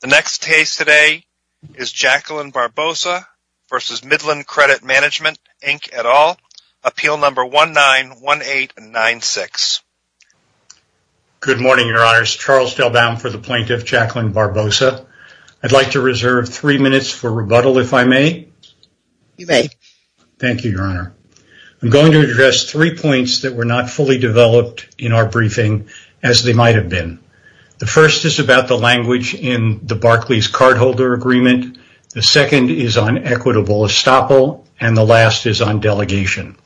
The next case today is Jacqueline Barbosa v. Midland Credit Mgmt., Inc. et al., Appeal No. 19-1896. Good morning, Your Honors. Charles Delbaum for the Plaintiff, Jacqueline Barbosa. I'd like to reserve three minutes for rebuttal, if I may. You may. Thank you, Your Honor. I'm going to address three points that were not fully developed in our briefing, as they might have been. The first is about the language in the Barclays cardholder agreement. The second is on equitable estoppel, and the last is on delegation.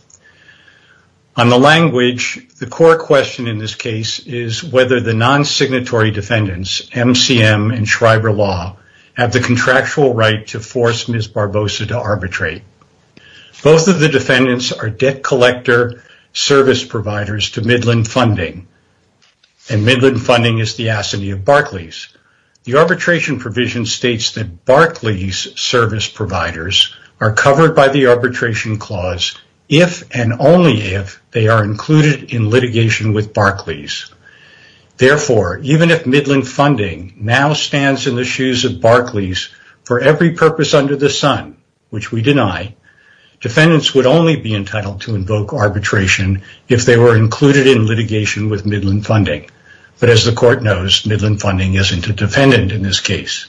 On the language, the core question in this case is whether the non-signatory defendants, MCM and Schreiber Law, have the contractual right to force Ms. Barbosa to arbitrate. Both of the defendants are debt collector service providers to Midland Funding, and Midland Funding is the assignee of Barclays. The arbitration provision states that Barclays service providers are covered by the arbitration clause if, and only if, they are included in litigation with Barclays. Therefore, even if Midland Funding now stands in the shoes of Barclays for every purpose under the sun, which we deny, defendants would only be entitled to invoke arbitration if they were included in litigation with Midland Funding. But as the court knows, Midland Funding isn't a defendant in this case.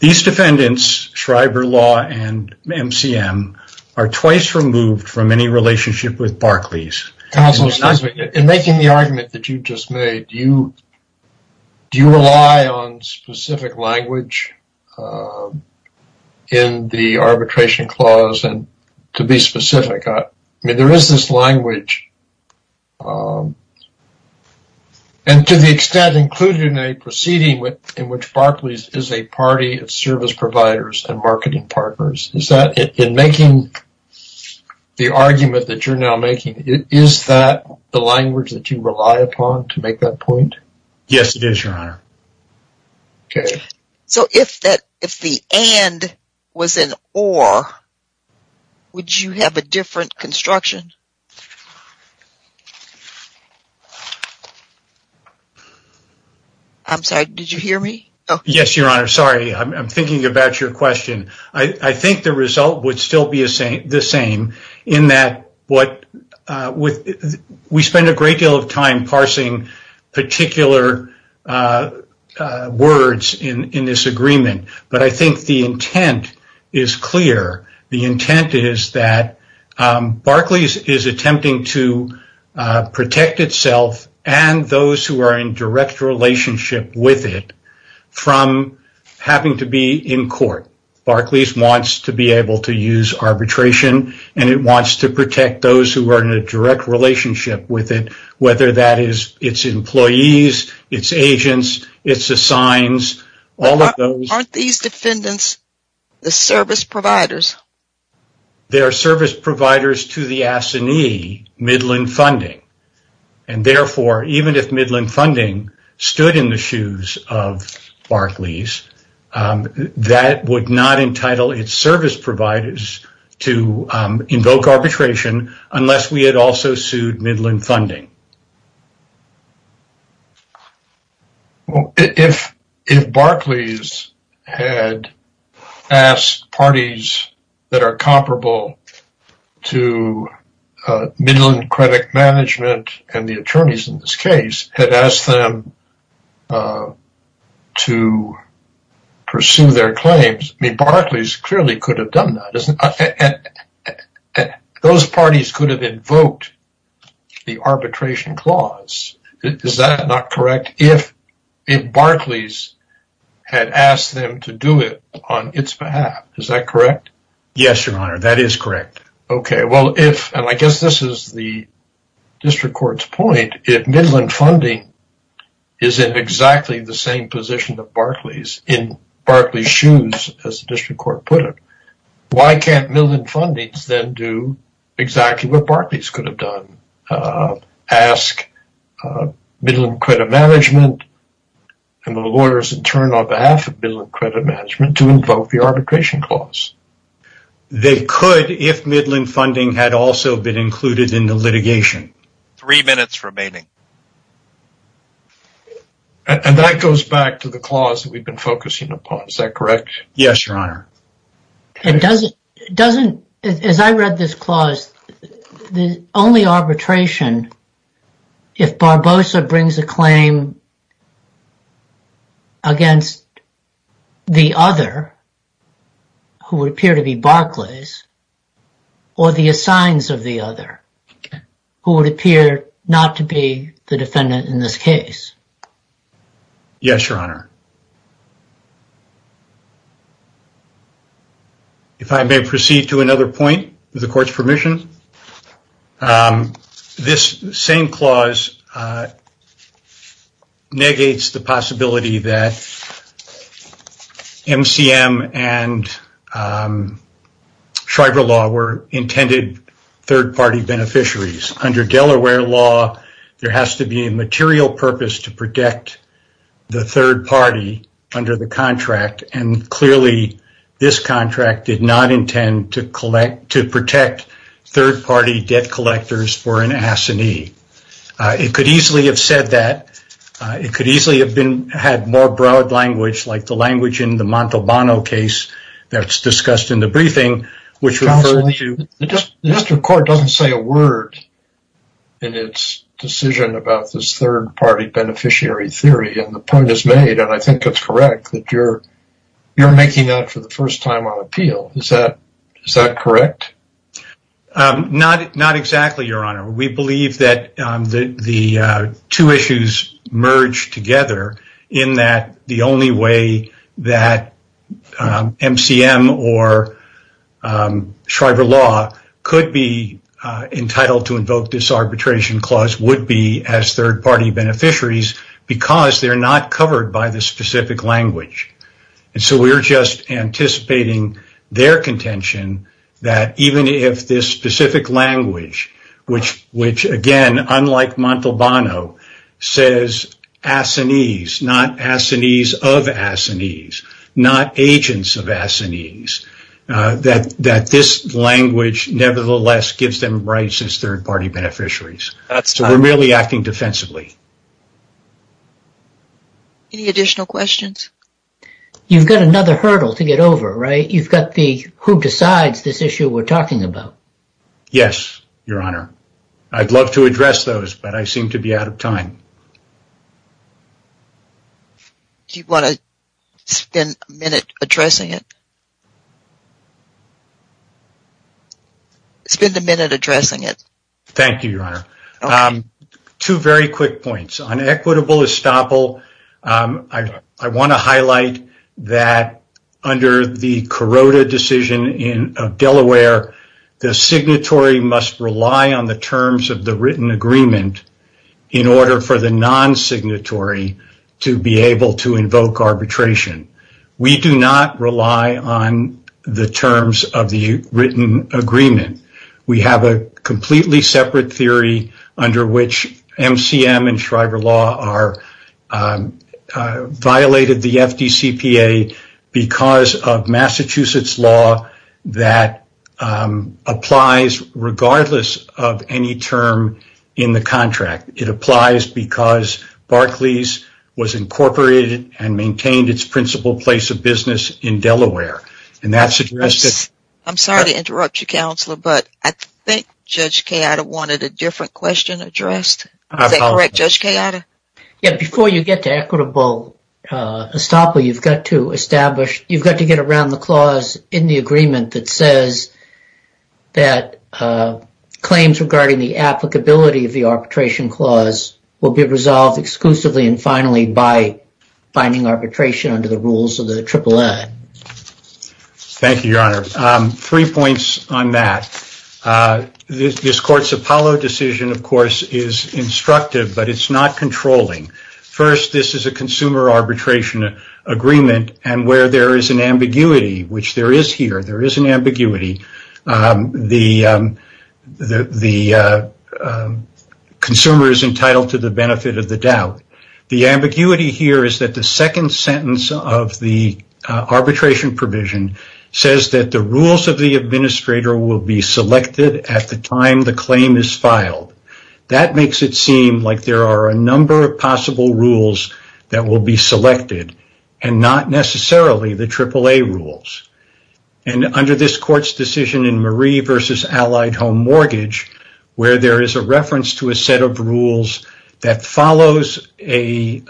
These defendants, Schreiber Law and MCM, are twice removed from any relationship with Barclays. Counsel, excuse me. In making the argument that you just made, do you rely on specific language in the arbitration clause? And to be specific, I mean, there is this language. And to the extent included in a proceeding in which Barclays is a party of service providers and marketing partners, in making the argument that you're now making, is that the language that you rely upon to make that point? Yes, it is, Your Honor. So if the and was an or, would you have a different construction? I'm sorry, did you have a question? I think the result would still be the same, in that we spent a great deal of time parsing particular words in this agreement. But I think the intent is clear. The intent is that Barclays is attempting to protect itself and those who are in direct relationship with it from having to be in court. Barclays wants to be able to use arbitration and it wants to protect those who are in a direct relationship with it, whether that is its employees, its agents, its assigns. Aren't these defendants the service providers? They are service providers to the AFSCENE, Midland Funding. And therefore, even if Midland Funding stood in the shoes of Barclays, that would not entitle its service providers to invoke arbitration, unless we had also sued Midland Funding. If Barclays had asked parties that are comparable to Midland Credit Management and the attorneys in this case had asked them to pursue their claims, Barclays clearly could have done that. Those parties could have invoked the arbitration clause. Is that not correct? If Barclays had asked them to do it on its behalf, is that correct? Yes, Your Honor, that is correct. Okay, well if, and I guess this is the district court's point, if Midland Funding is in exactly the same position that Barclays, in Barclays' shoes, as the district court put it, why can't Midland Funding then do exactly what Barclays could have done? Ask Midland Credit Management and the lawyers in turn on behalf of Midland Credit Management to invoke the arbitration clause? They could if Midland Funding had also been included in the litigation. Three minutes remaining. And that goes back to the clause that we've been focusing upon, is that correct? Yes, Your Honor. And doesn't, as I read this clause, the only arbitration, if Barbosa brings a claim against the other, who would appear to be Barclays, or the assigns of the other, who would appear not to be the defendant in this case? Yes, Your Honor. If I may proceed to another point, with the court's permission, this same clause negates the possibility that MCM and Shriver Law were intended third-party beneficiaries. Under Delaware Law, there has to be a material purpose to protect the third party under the contract, and clearly this contract did not intend to protect third-party debt collectors for an It could easily have had more broad language, like the language in the Montalbano case that's discussed in the briefing, which referred to- Mr. Court doesn't say a word in its decision about this third-party beneficiary theory, and the point is made, and I think it's correct, that you're making that for the first time on appeal. Is that correct? Not exactly, Your Honor. We believe that the two issues merge together, in that the only way that MCM or Shriver Law could be entitled to invoke this arbitration clause would be as third-party beneficiaries, because they're not covered by the specific language, and so we're just anticipating their contention that even if this specific language, which again, unlike Montalbano, says assinees, not assinees of assinees, not agents of assinees, that this language nevertheless gives them rights as third-party beneficiaries. We're merely acting defensively. Any additional questions? You've got another hurdle to get over, right? You've got the who decides this issue we're talking about. Yes, Your Honor. I'd love to address those, but I seem to be out of time. Do you want to spend a minute addressing it? Spend a minute addressing it. Thank you, Your Honor. Two very quick points. On equitable estoppel, I want to highlight that under the Kuroda decision of Delaware, the signatory must rely on the terms of the written agreement in order for the non-signatory to be able to invoke arbitration. We do not rely on the terms of the written agreement. We have a completely separate theory under which MCM and Shriver law violated the FDCPA because of Massachusetts law that applies regardless of any term in the contract. It applies because Barclays was incorporated and maintained its place of business in Delaware. I'm sorry to interrupt you, Counselor, but I think Judge Kayada wanted a different question addressed. Is that correct, Judge Kayada? Before you get to equitable estoppel, you've got to get around the clause in the agreement that says that claims regarding the applicability of the arbitration clause will be resolved exclusively and finally by binding arbitration under the rules of the AAA. Thank you, Your Honor. Three points on that. This Court's Apollo decision, of course, is instructive, but it's not controlling. First, this is a consumer arbitration agreement, and where there is an ambiguity, which there is here, there is an ambiguity. The consumer is entitled to the benefit of the doubt. The ambiguity here is that the second sentence of the arbitration provision says that the rules of the administrator will be selected at the time the claim is filed. That makes it seem like there are a number of possible rules that will be selected and not necessarily the AAA rules. Under this Court's decision in Marie v. Allied Home Mortgage, where there is a reference to a set of rules that follows a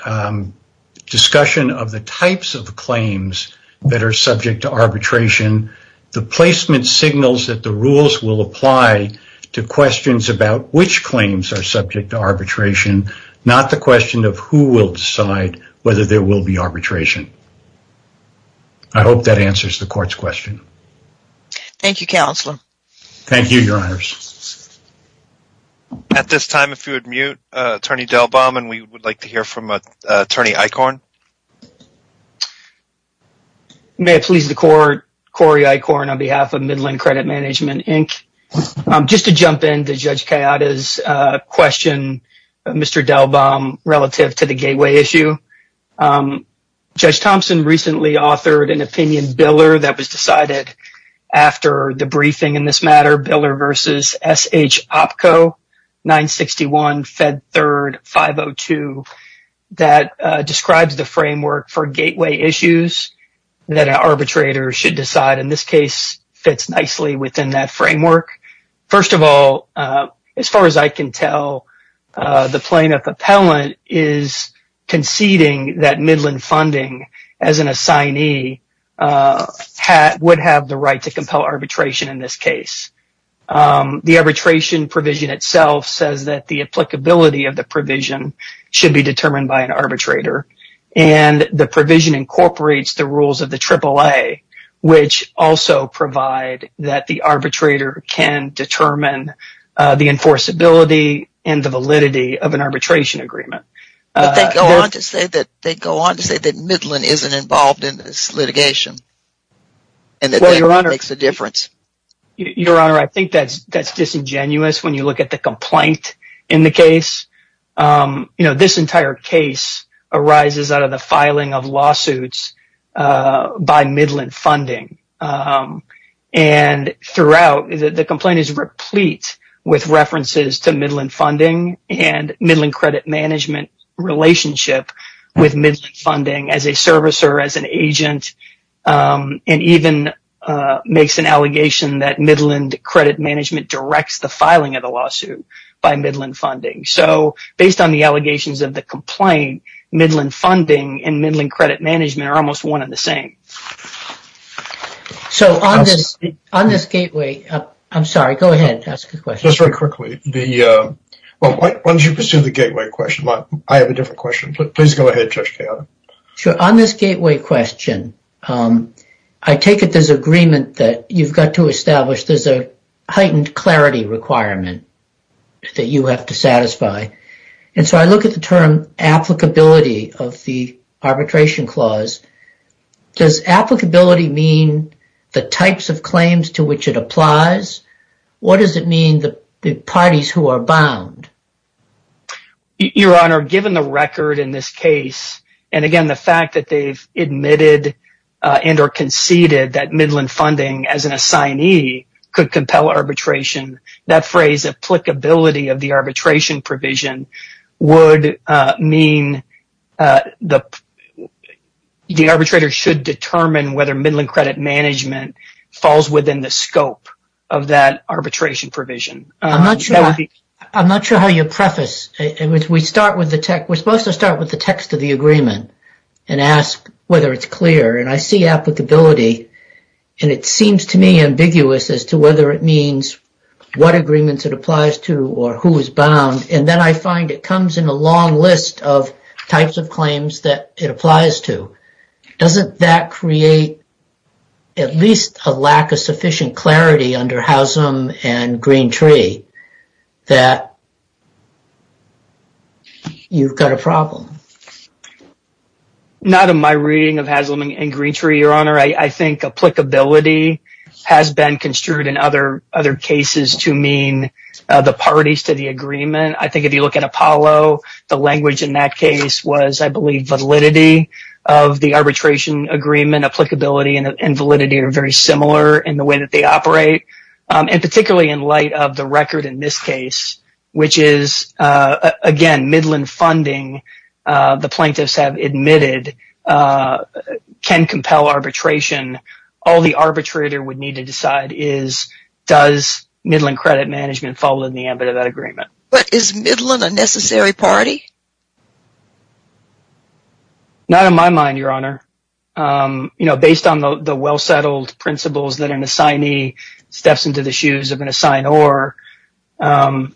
discussion of the types of claims that are subject to arbitration, the placement signals that the rules will apply to questions about which claims are subject to arbitration, not the question of who will decide whether there will be arbitration. I hope that answers the Court's question. Thank you, Counselor. Thank you, Your Honors. At this time, if you would mute, Attorney Delbaum, and we would like to hear from Attorney Eichorn. May it please the Court, Corey Eichorn on behalf of Midland Credit Management, Inc. Just to jump in to Judge Cayada's question, Mr. Delbaum, relative to the gateway issue, Judge Thompson recently authored an opinion biller that was decided after the briefing in this matter, Biller v. S. H. Opko, 961 Fed 3rd 502, that describes the framework for gateway issues that an arbitrator should decide, and this case fits nicely within that framework. First of all, as far as I can tell, the plaintiff appellant is conceding that Midland funding as an assignee would have the right to compel arbitration in this case. The arbitration provision itself says that the applicability of the provision should be determined by an arbitrator, and the provision incorporates the rules of the AAA, which also provide that the arbitrator can determine the enforceability and the validity of an arbitration agreement. They go on to say that Midland isn't involved in this litigation, and that makes a difference. Your Honor, I think that's disingenuous when you look at the complaint in the case. You know, this entire case arises out of the filing of lawsuits by Midland funding, and throughout, the complaint is replete with references to Midland funding and Midland credit management relationship with Midland funding as a servicer, as an agent, and even makes an allegation that Midland credit management directs the filing of the lawsuit by Midland funding. So, based on the allegations of the complaint, Midland funding and Midland credit management are almost one and the same. So, on this gateway, I'm sorry, go ahead and ask a question. Just very quickly. Why don't you pursue the gateway question? I have a different question. Please go ahead, Judge Cato. Sure. On this gateway question, I take it there's agreement that you've got to establish there's a that you have to satisfy, and so I look at the term applicability of the arbitration clause. Does applicability mean the types of claims to which it applies? What does it mean the parties who are bound? Your Honor, given the record in this case, and again, the fact that they've admitted and or conceded that Midland funding as an assignee could compel arbitration, that phrase applicability of the arbitration provision would mean the arbitrator should determine whether Midland credit management falls within the scope of that arbitration provision. I'm not sure how you preface. We're supposed to start with the text of the agreement and ask whether it's clear, and I see applicability, and it seems to me ambiguous as to whether it means what agreements it applies to or who is bound, and then I find it comes in a long list of types of claims that it applies to. Doesn't that create at least a lack of sufficient clarity under Haslam and Greentree that you've got a problem? Not in my reading of Haslam and Greentree, Your Honor. I think applicability has been construed in other cases to mean the parties to the agreement. I think if you look at Apollo, the language in that case was, I believe, validity of the arbitration agreement. Applicability and validity are very similar in the way that they operate, and particularly in light of the record in this case, which is, again, Midland funding the plaintiffs have admitted can compel arbitration. All the arbitrator would need to decide is does Midland credit management fall in the ambit of that agreement. But is Midland a necessary party? Not in my mind, Your Honor. You know, based on the well-settled principles that an assignee steps into the shoes of an assignor, and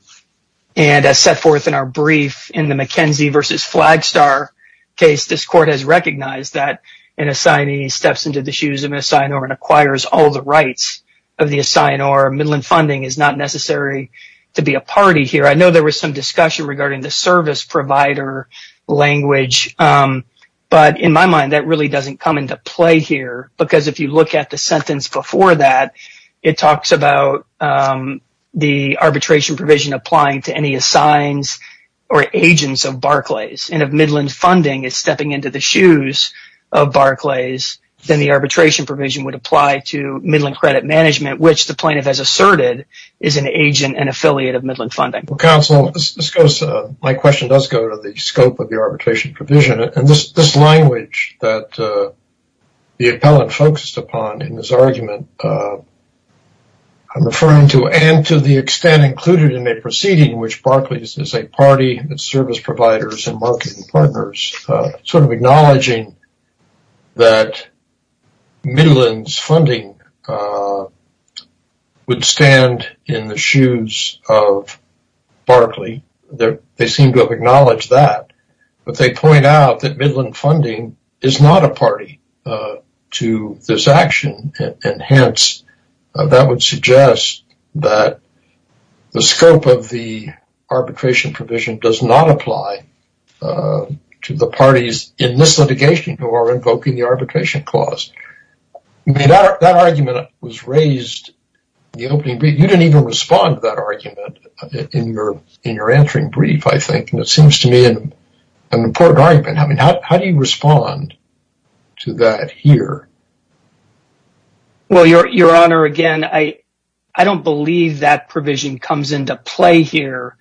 as set forth in our brief, in the McKenzie versus Flagstar case, this Court has recognized that an assignee steps into the shoes of an assignor and acquires all the rights of the assignor. Midland funding is not necessary to be a party here. I know there was some discussion regarding the service provider language, but in my mind, that really doesn't come into play here, because if you look at the sentence before that, it talks about the arbitration provision applying to any assigns or agents of Barclays, and if Midland funding is stepping into the shoes of Barclays, then the arbitration provision would apply to Midland credit management, which the plaintiff has asserted is an agent and affiliate of Midland funding. Counsel, my question does go to the scope of the arbitration provision, and this language that the appellant focused upon in his argument. I'm referring to, and to the extent included in a proceeding in which Barclays is a party that service providers and marketing partners, sort of acknowledging that Midland's funding would stand in the shoes of Barclay. They seem to acknowledge that, but they point out that Midland funding is not a party to this action, and hence, that would suggest that the scope of the arbitration provision does not apply to the parties in this litigation who are invoking the arbitration clause. That argument was raised in the opening brief. You didn't even respond to that argument in your entering brief, I think. It seems to me an important argument. How do you respond to that here? Well, Your Honor, again, I don't believe that provision comes into play here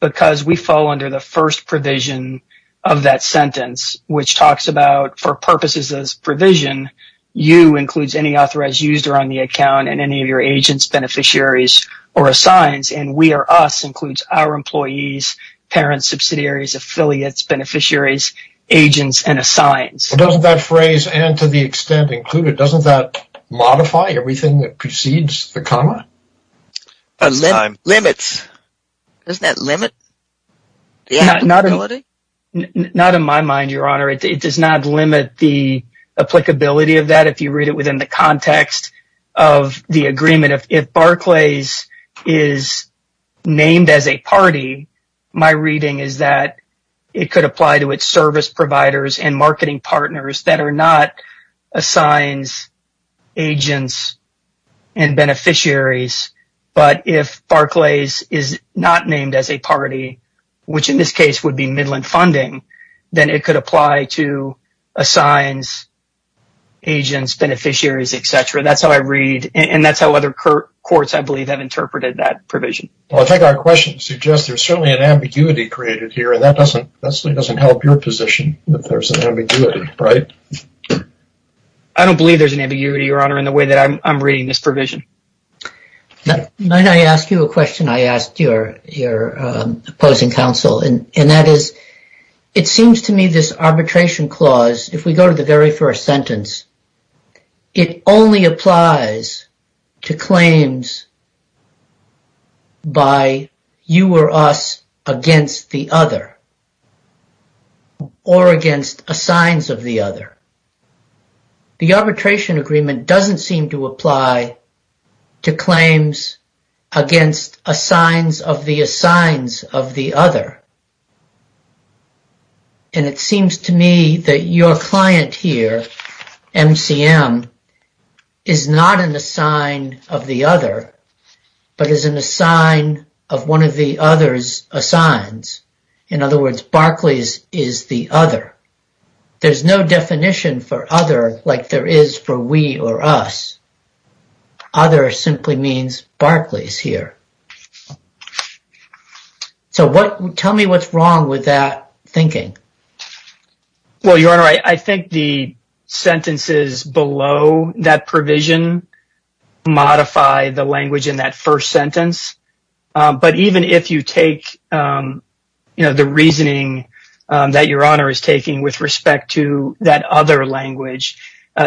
because we fall under the first provision of that sentence, which talks about, for purposes of this provision, you includes any authorized user on the account and any of your agents, beneficiaries, or assigns, and we or us includes our employees, parents, subsidiaries, affiliates, beneficiaries, agents, and assigns. Doesn't that phrase, and to the extent included, doesn't that modify everything that precedes the comma? Limits. Doesn't that limit? Not in my mind, Your Honor. It does not limit the applicability of that if you read it within the context of the agreement. If Barclays is named as a party, my reading is that it could apply to its service providers and marketing partners that are not assigns, agents, and beneficiaries. But if Barclays is not named as a party, which in this case would be Midland Funding, then it could apply to assigns, agents, beneficiaries, etc. That's how I read, and that's how other courts, I believe, have interpreted that provision. Well, I think our question suggests there's certainly an ambiguity created here, and that doesn't help your position that there's an ambiguity, right? I don't believe there's an ambiguity, Your Honor, in the way that I'm reading this provision. Might I ask you a question? I asked your opposing counsel, and that is, it seems to me this arbitration clause, if we go to the very first sentence, it only applies to claims by you or us against the other or against assigns of the other. The arbitration agreement doesn't seem to apply to claims against assigns of the assigns of the other, and it seems to me that your client here, MCM, is not an assign of the other, but is an assign of one of the other's assigns. In other words, Barclays is the other. There's no definition for other like there is for we or us. Other simply means Barclays here. So, tell me what's wrong with that thinking? Well, Your Honor, I think the sentences below that provision modify the language in that first sentence, but even if you take, you know, the reasoning that Your Honor is taking with respect to that other language,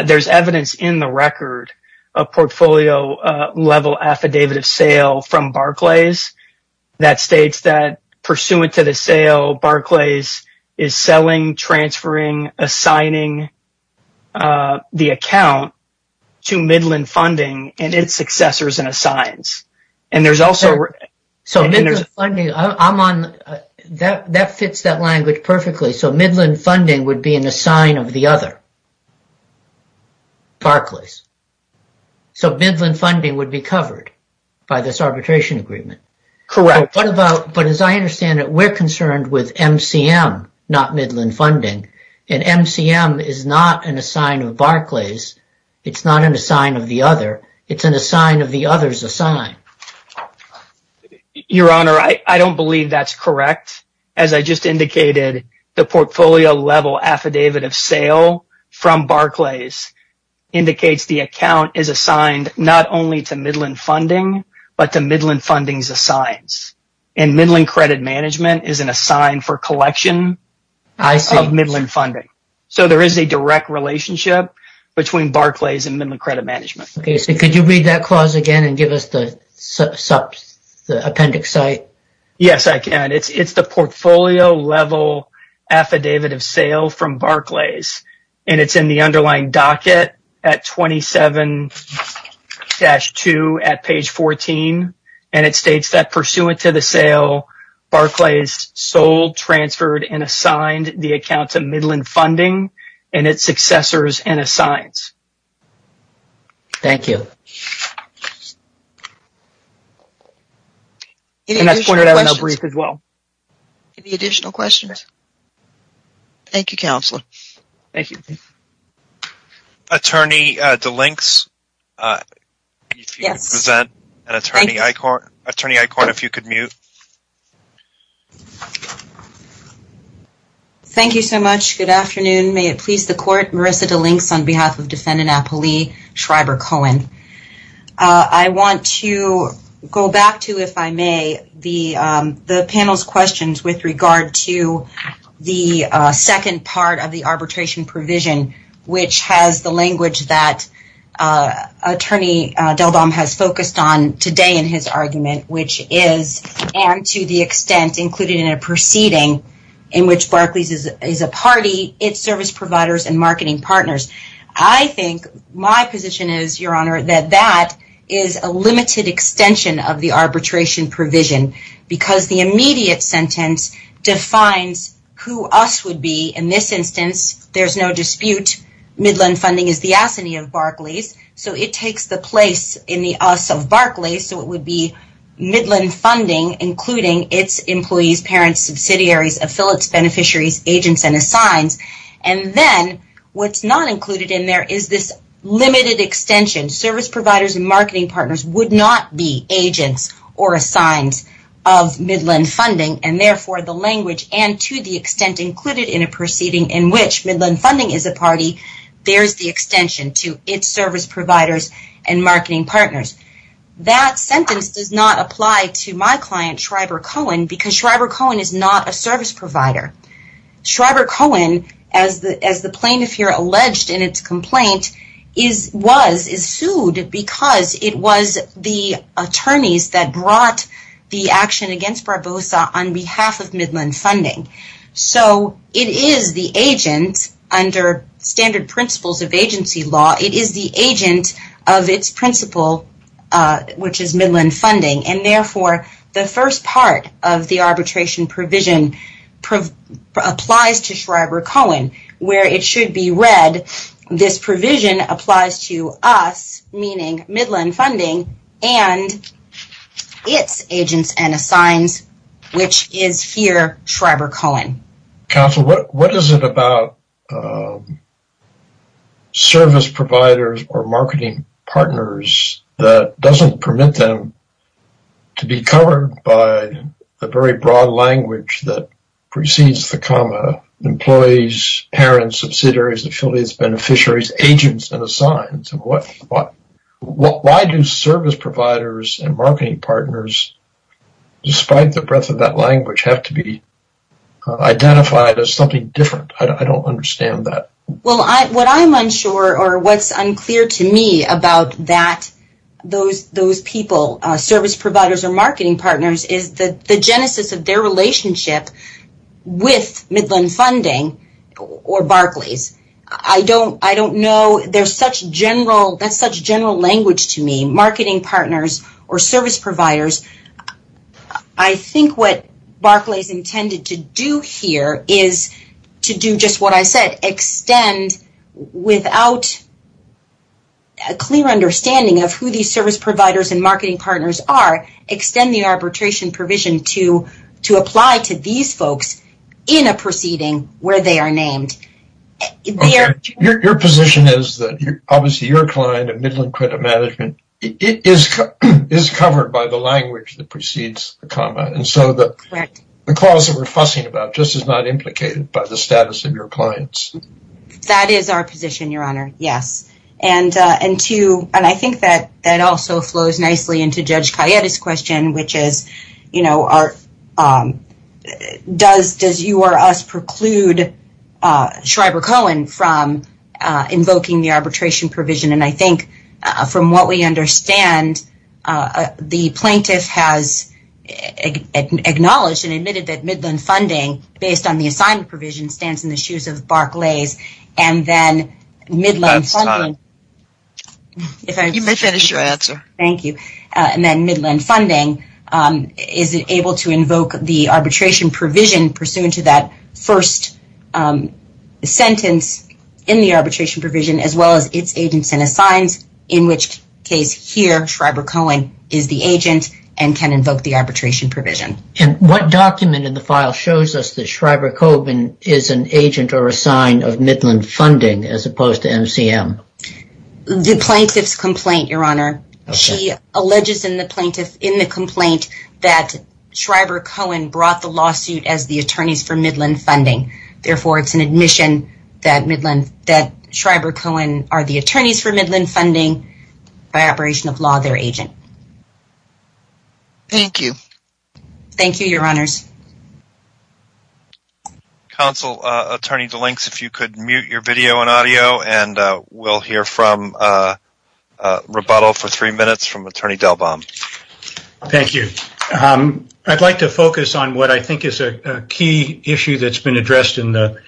there's evidence in the record of portfolio-level affidavit of sale from Barclays that states that, pursuant to the sale, Barclays is selling, transferring, assigning the account to Midland Funding and its successors and assigns. So, Midland Funding, that fits that language perfectly. So, Barclays. So, Midland Funding would be covered by this arbitration agreement. Correct. But as I understand it, we're concerned with MCM, not Midland Funding, and MCM is not an assign of Barclays. It's not an assign of the other. It's an assign of the other's assign. Your Honor, I don't believe that's correct. As I just indicated, the portfolio-level affidavit of sale from Barclays indicates the account is assigned not only to Midland Funding, but to Midland Funding's assigns, and Midland Credit Management is an assign for collection of Midland Funding. So, there is a direct relationship between Barclays and Midland Credit Management. Okay. So, could you read that clause again and give us the And it's in the underlying docket at 27-2 at page 14, and it states that pursuant to the sale, Barclays sold, transferred, and assigned the account to Midland Funding and its successors and assigns. Thank you. And that's pointed out in our brief as well. Any additional questions? Thank you, Counselor. Thank you. Attorney DeLinks, if you could present, and Attorney Eichhorn, if you could mute. Thank you so much. Good afternoon. May it please the Court, Marissa DeLinks on behalf of regard to the second part of the arbitration provision, which has the language that Attorney DelDom has focused on today in his argument, which is, and to the extent, included in a proceeding in which Barclays is a party, its service providers, and marketing partners. I think my position is, Your Honor, that that is a limited extension of the arbitration provision because the immediate sentence defines who us would be. In this instance, there's no dispute. Midland Funding is the assignee of Barclays, so it takes the place in the us of Barclays, so it would be Midland Funding, including its employees, parents, subsidiaries, affiliates, beneficiaries, agents, and assigns. And then what's not included in there is this limited extension. Service providers and marketing partners would not be agents or assigned of Midland Funding, and therefore, the language, and to the extent included in a proceeding in which Midland Funding is a party, there's the extension to its service providers and marketing partners. That sentence does not apply to my client, Schreiber Cohen, because Schreiber Cohen is not a service provider. Schreiber Cohen, as the plaintiff here alleged in its complaint, is sued because it was the attorneys that brought the action against Barbosa on behalf of Midland Funding. So it is the agent, under standard principles of agency law, it is the agent of its principal, which is Midland Funding, and therefore, the first part of the arbitration provision applies to Schreiber Cohen, where it should be read, this provision applies to us, meaning Midland Funding, and its agents and assigns, which is here Schreiber Cohen. Counsel, what is it about service providers or marketing partners that doesn't permit them to be covered by the very broad language that precedes the comma, employees, parents, subsidiaries, affiliates, beneficiaries, agents, and assigns? Why do service providers and marketing partners, despite the breadth of that language, have to be identified as something different? I don't understand that. Well, what I'm unsure, or what's unclear to me about those people, service providers or marketing partners, is the genesis of their relationship with Midland Funding or Barclays. I don't know. That's such general language to me, marketing partners or service providers. I think what Barclays intended to do here is to do just what I said, extend without a clear understanding of who these service providers and marketing partners are, extend the arbitration provision to apply to these folks in a proceeding where they are named. Your position is that, obviously, your client at Midland Credit Management is covered by the language that precedes the comma, and so the clause that we're fussing about just is not implicated by the status of your clients. That is our position, Your Honor, yes. I think that also flows nicely into Judge Cayette's question, which is, does you or us preclude Schreiber-Cohen from invoking the arbitration provision? I think, from what we understand, the plaintiff has acknowledged and admitted that and then Midland Funding is able to invoke the arbitration provision pursuant to that first sentence in the arbitration provision, as well as its agents and assigns, in which case, here, Schreiber-Cohen is the agent and can invoke the arbitration provision. What document in the file shows us that Schreiber-Cohen is an agent or a sign of Midland Funding as opposed to MCM? The plaintiff's complaint, Your Honor. She alleges in the complaint that Schreiber-Cohen brought the lawsuit as the attorneys for Midland Funding. Therefore, it's an admission that Schreiber-Cohen are the attorneys for Midland Funding. Thank you. Thank you, Your Honors. Counsel, Attorney DeLinks, if you could mute your video and audio and we'll hear from rebuttal for three minutes from Attorney Delbaum. Thank you. I'd like to focus on what I think is a key issue that's been addressed in the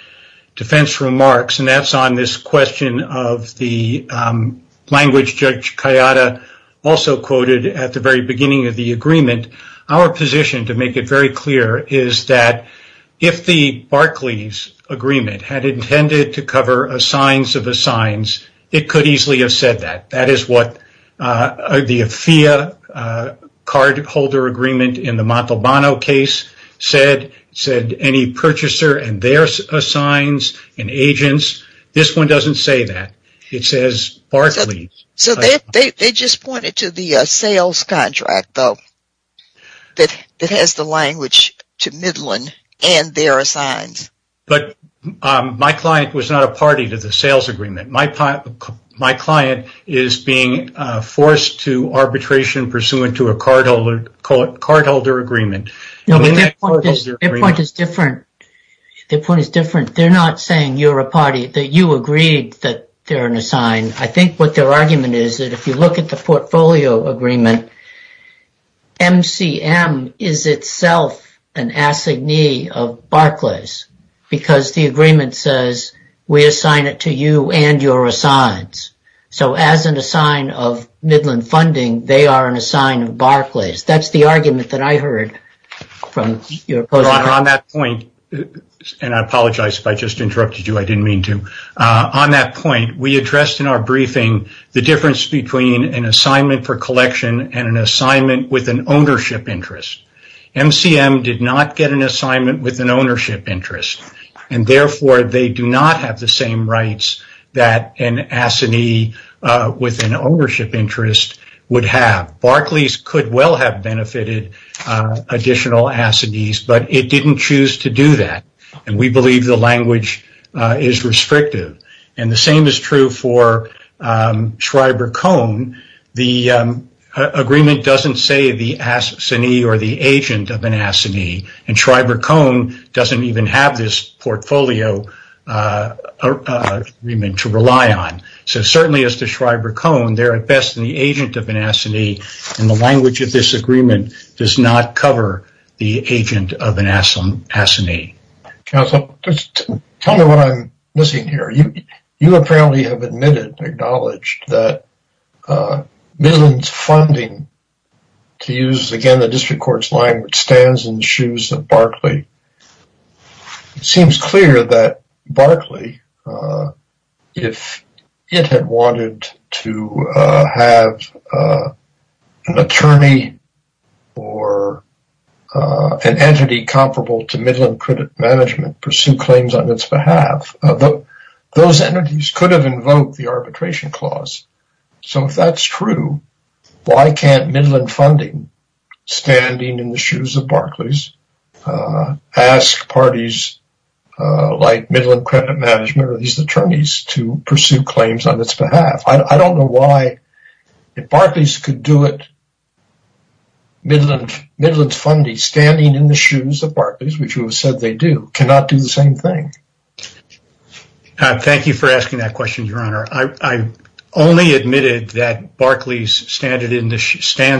defense remarks, and that's on this question of the language Judge Kayada also quoted at the very beginning of the agreement. Our position, to make it very clear, is that if the Barclays Agreement had intended to cover assigns of assigns, it could easily have said that. That is what the AFIA cardholder agreement in the Montalbano case said. It said any purchaser and their assigns and agents. This one doesn't say that. It says Barclays. They just pointed to the sales contract, though, that has the language to Midland and their assigns. But my client was not a party to the sales agreement. My client is being forced to arbitration pursuant to a cardholder agreement. No, but their point is different. Their point is different. They're not saying you're a party, that you agreed that they're an assign. I think what their argument is that if you look at the portfolio agreement, MCM is itself an assignee of Barclays because the agreement says we assign it to you and your assigns. So as an assign of Midland funding, they are an assign of Barclays. That's the argument that I heard from your opponent. Well, on that point, and I apologize if I just interrupted you. I didn't mean to. On that point, we addressed in our briefing the difference between an assignment for collection and an assignment with an ownership interest. MCM did not get an assignment with an ownership interest, and therefore they do not have the same rights that an assignee with an ownership interest would have. Barclays could well have benefited additional assignees, but it didn't choose to do that, and we believe the language is restrictive. The same is true for Schreiber-Cohn. The agreement doesn't say the assignee or the agent of an assignee, and Schreiber-Cohn doesn't even have this portfolio agreement to rely on. So certainly as to Schreiber-Cohn, they're at best the agent of an assignee, and the language of this agreement does not cover the agent of an assignee. Counsel, tell me what I'm missing here. You apparently have admitted, acknowledged that Midland's funding, to use again the district court's line, which stands in the shoes of Barclay. It seems clear that Barclay, if it had wanted to have an attorney or an entity comparable to Midland Credit Management pursue claims on its behalf, those entities could have invoked the arbitration clause. So if that's true, why can't Midland funding, standing in the shoes of Barclays, ask parties like Midland Credit Management or these attorneys to pursue claims on its behalf? I don't know why, if Barclays could do it, Midland's funding, standing in the shoes of Barclays, which you have said they do, cannot do the same thing. Thank you for asking that question, Your Honor. I only admitted that Barclays stands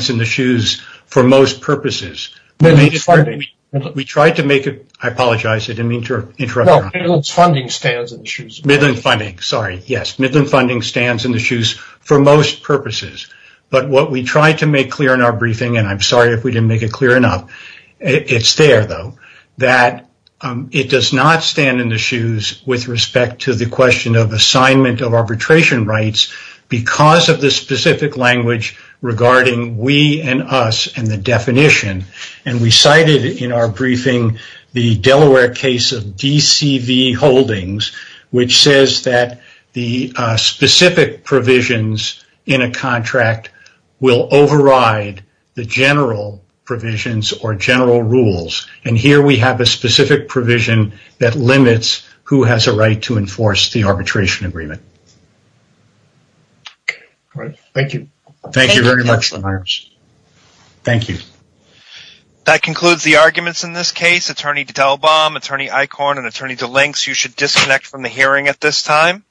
in the shoes for most purposes. We tried to make it, I apologize, I didn't mean to interrupt. No, Midland's funding stands in the shoes. Midland funding, sorry. Yes, Midland funding stands in the shoes for most purposes. But what we tried to make clear in our briefing, and I'm sorry if we didn't make it clear enough, it's there though, that it does not stand in the shoes with respect to the question of assignment of arbitration rights because of the specific language regarding we and us and the definition. We cited in our briefing the Delaware case of DCV Holdings, which says that the specific provisions in a contract will override the general provisions or general rules. Here, we have a specific provision that limits who has a right to enforce the arbitration agreement. All right. Thank you. Thank you very much, LaVarge. Thank you. That concludes the arguments in this case. Attorney Delbaum, Attorney Eichorn, and Attorney DeLinks, you should disconnect from the hearing at this time.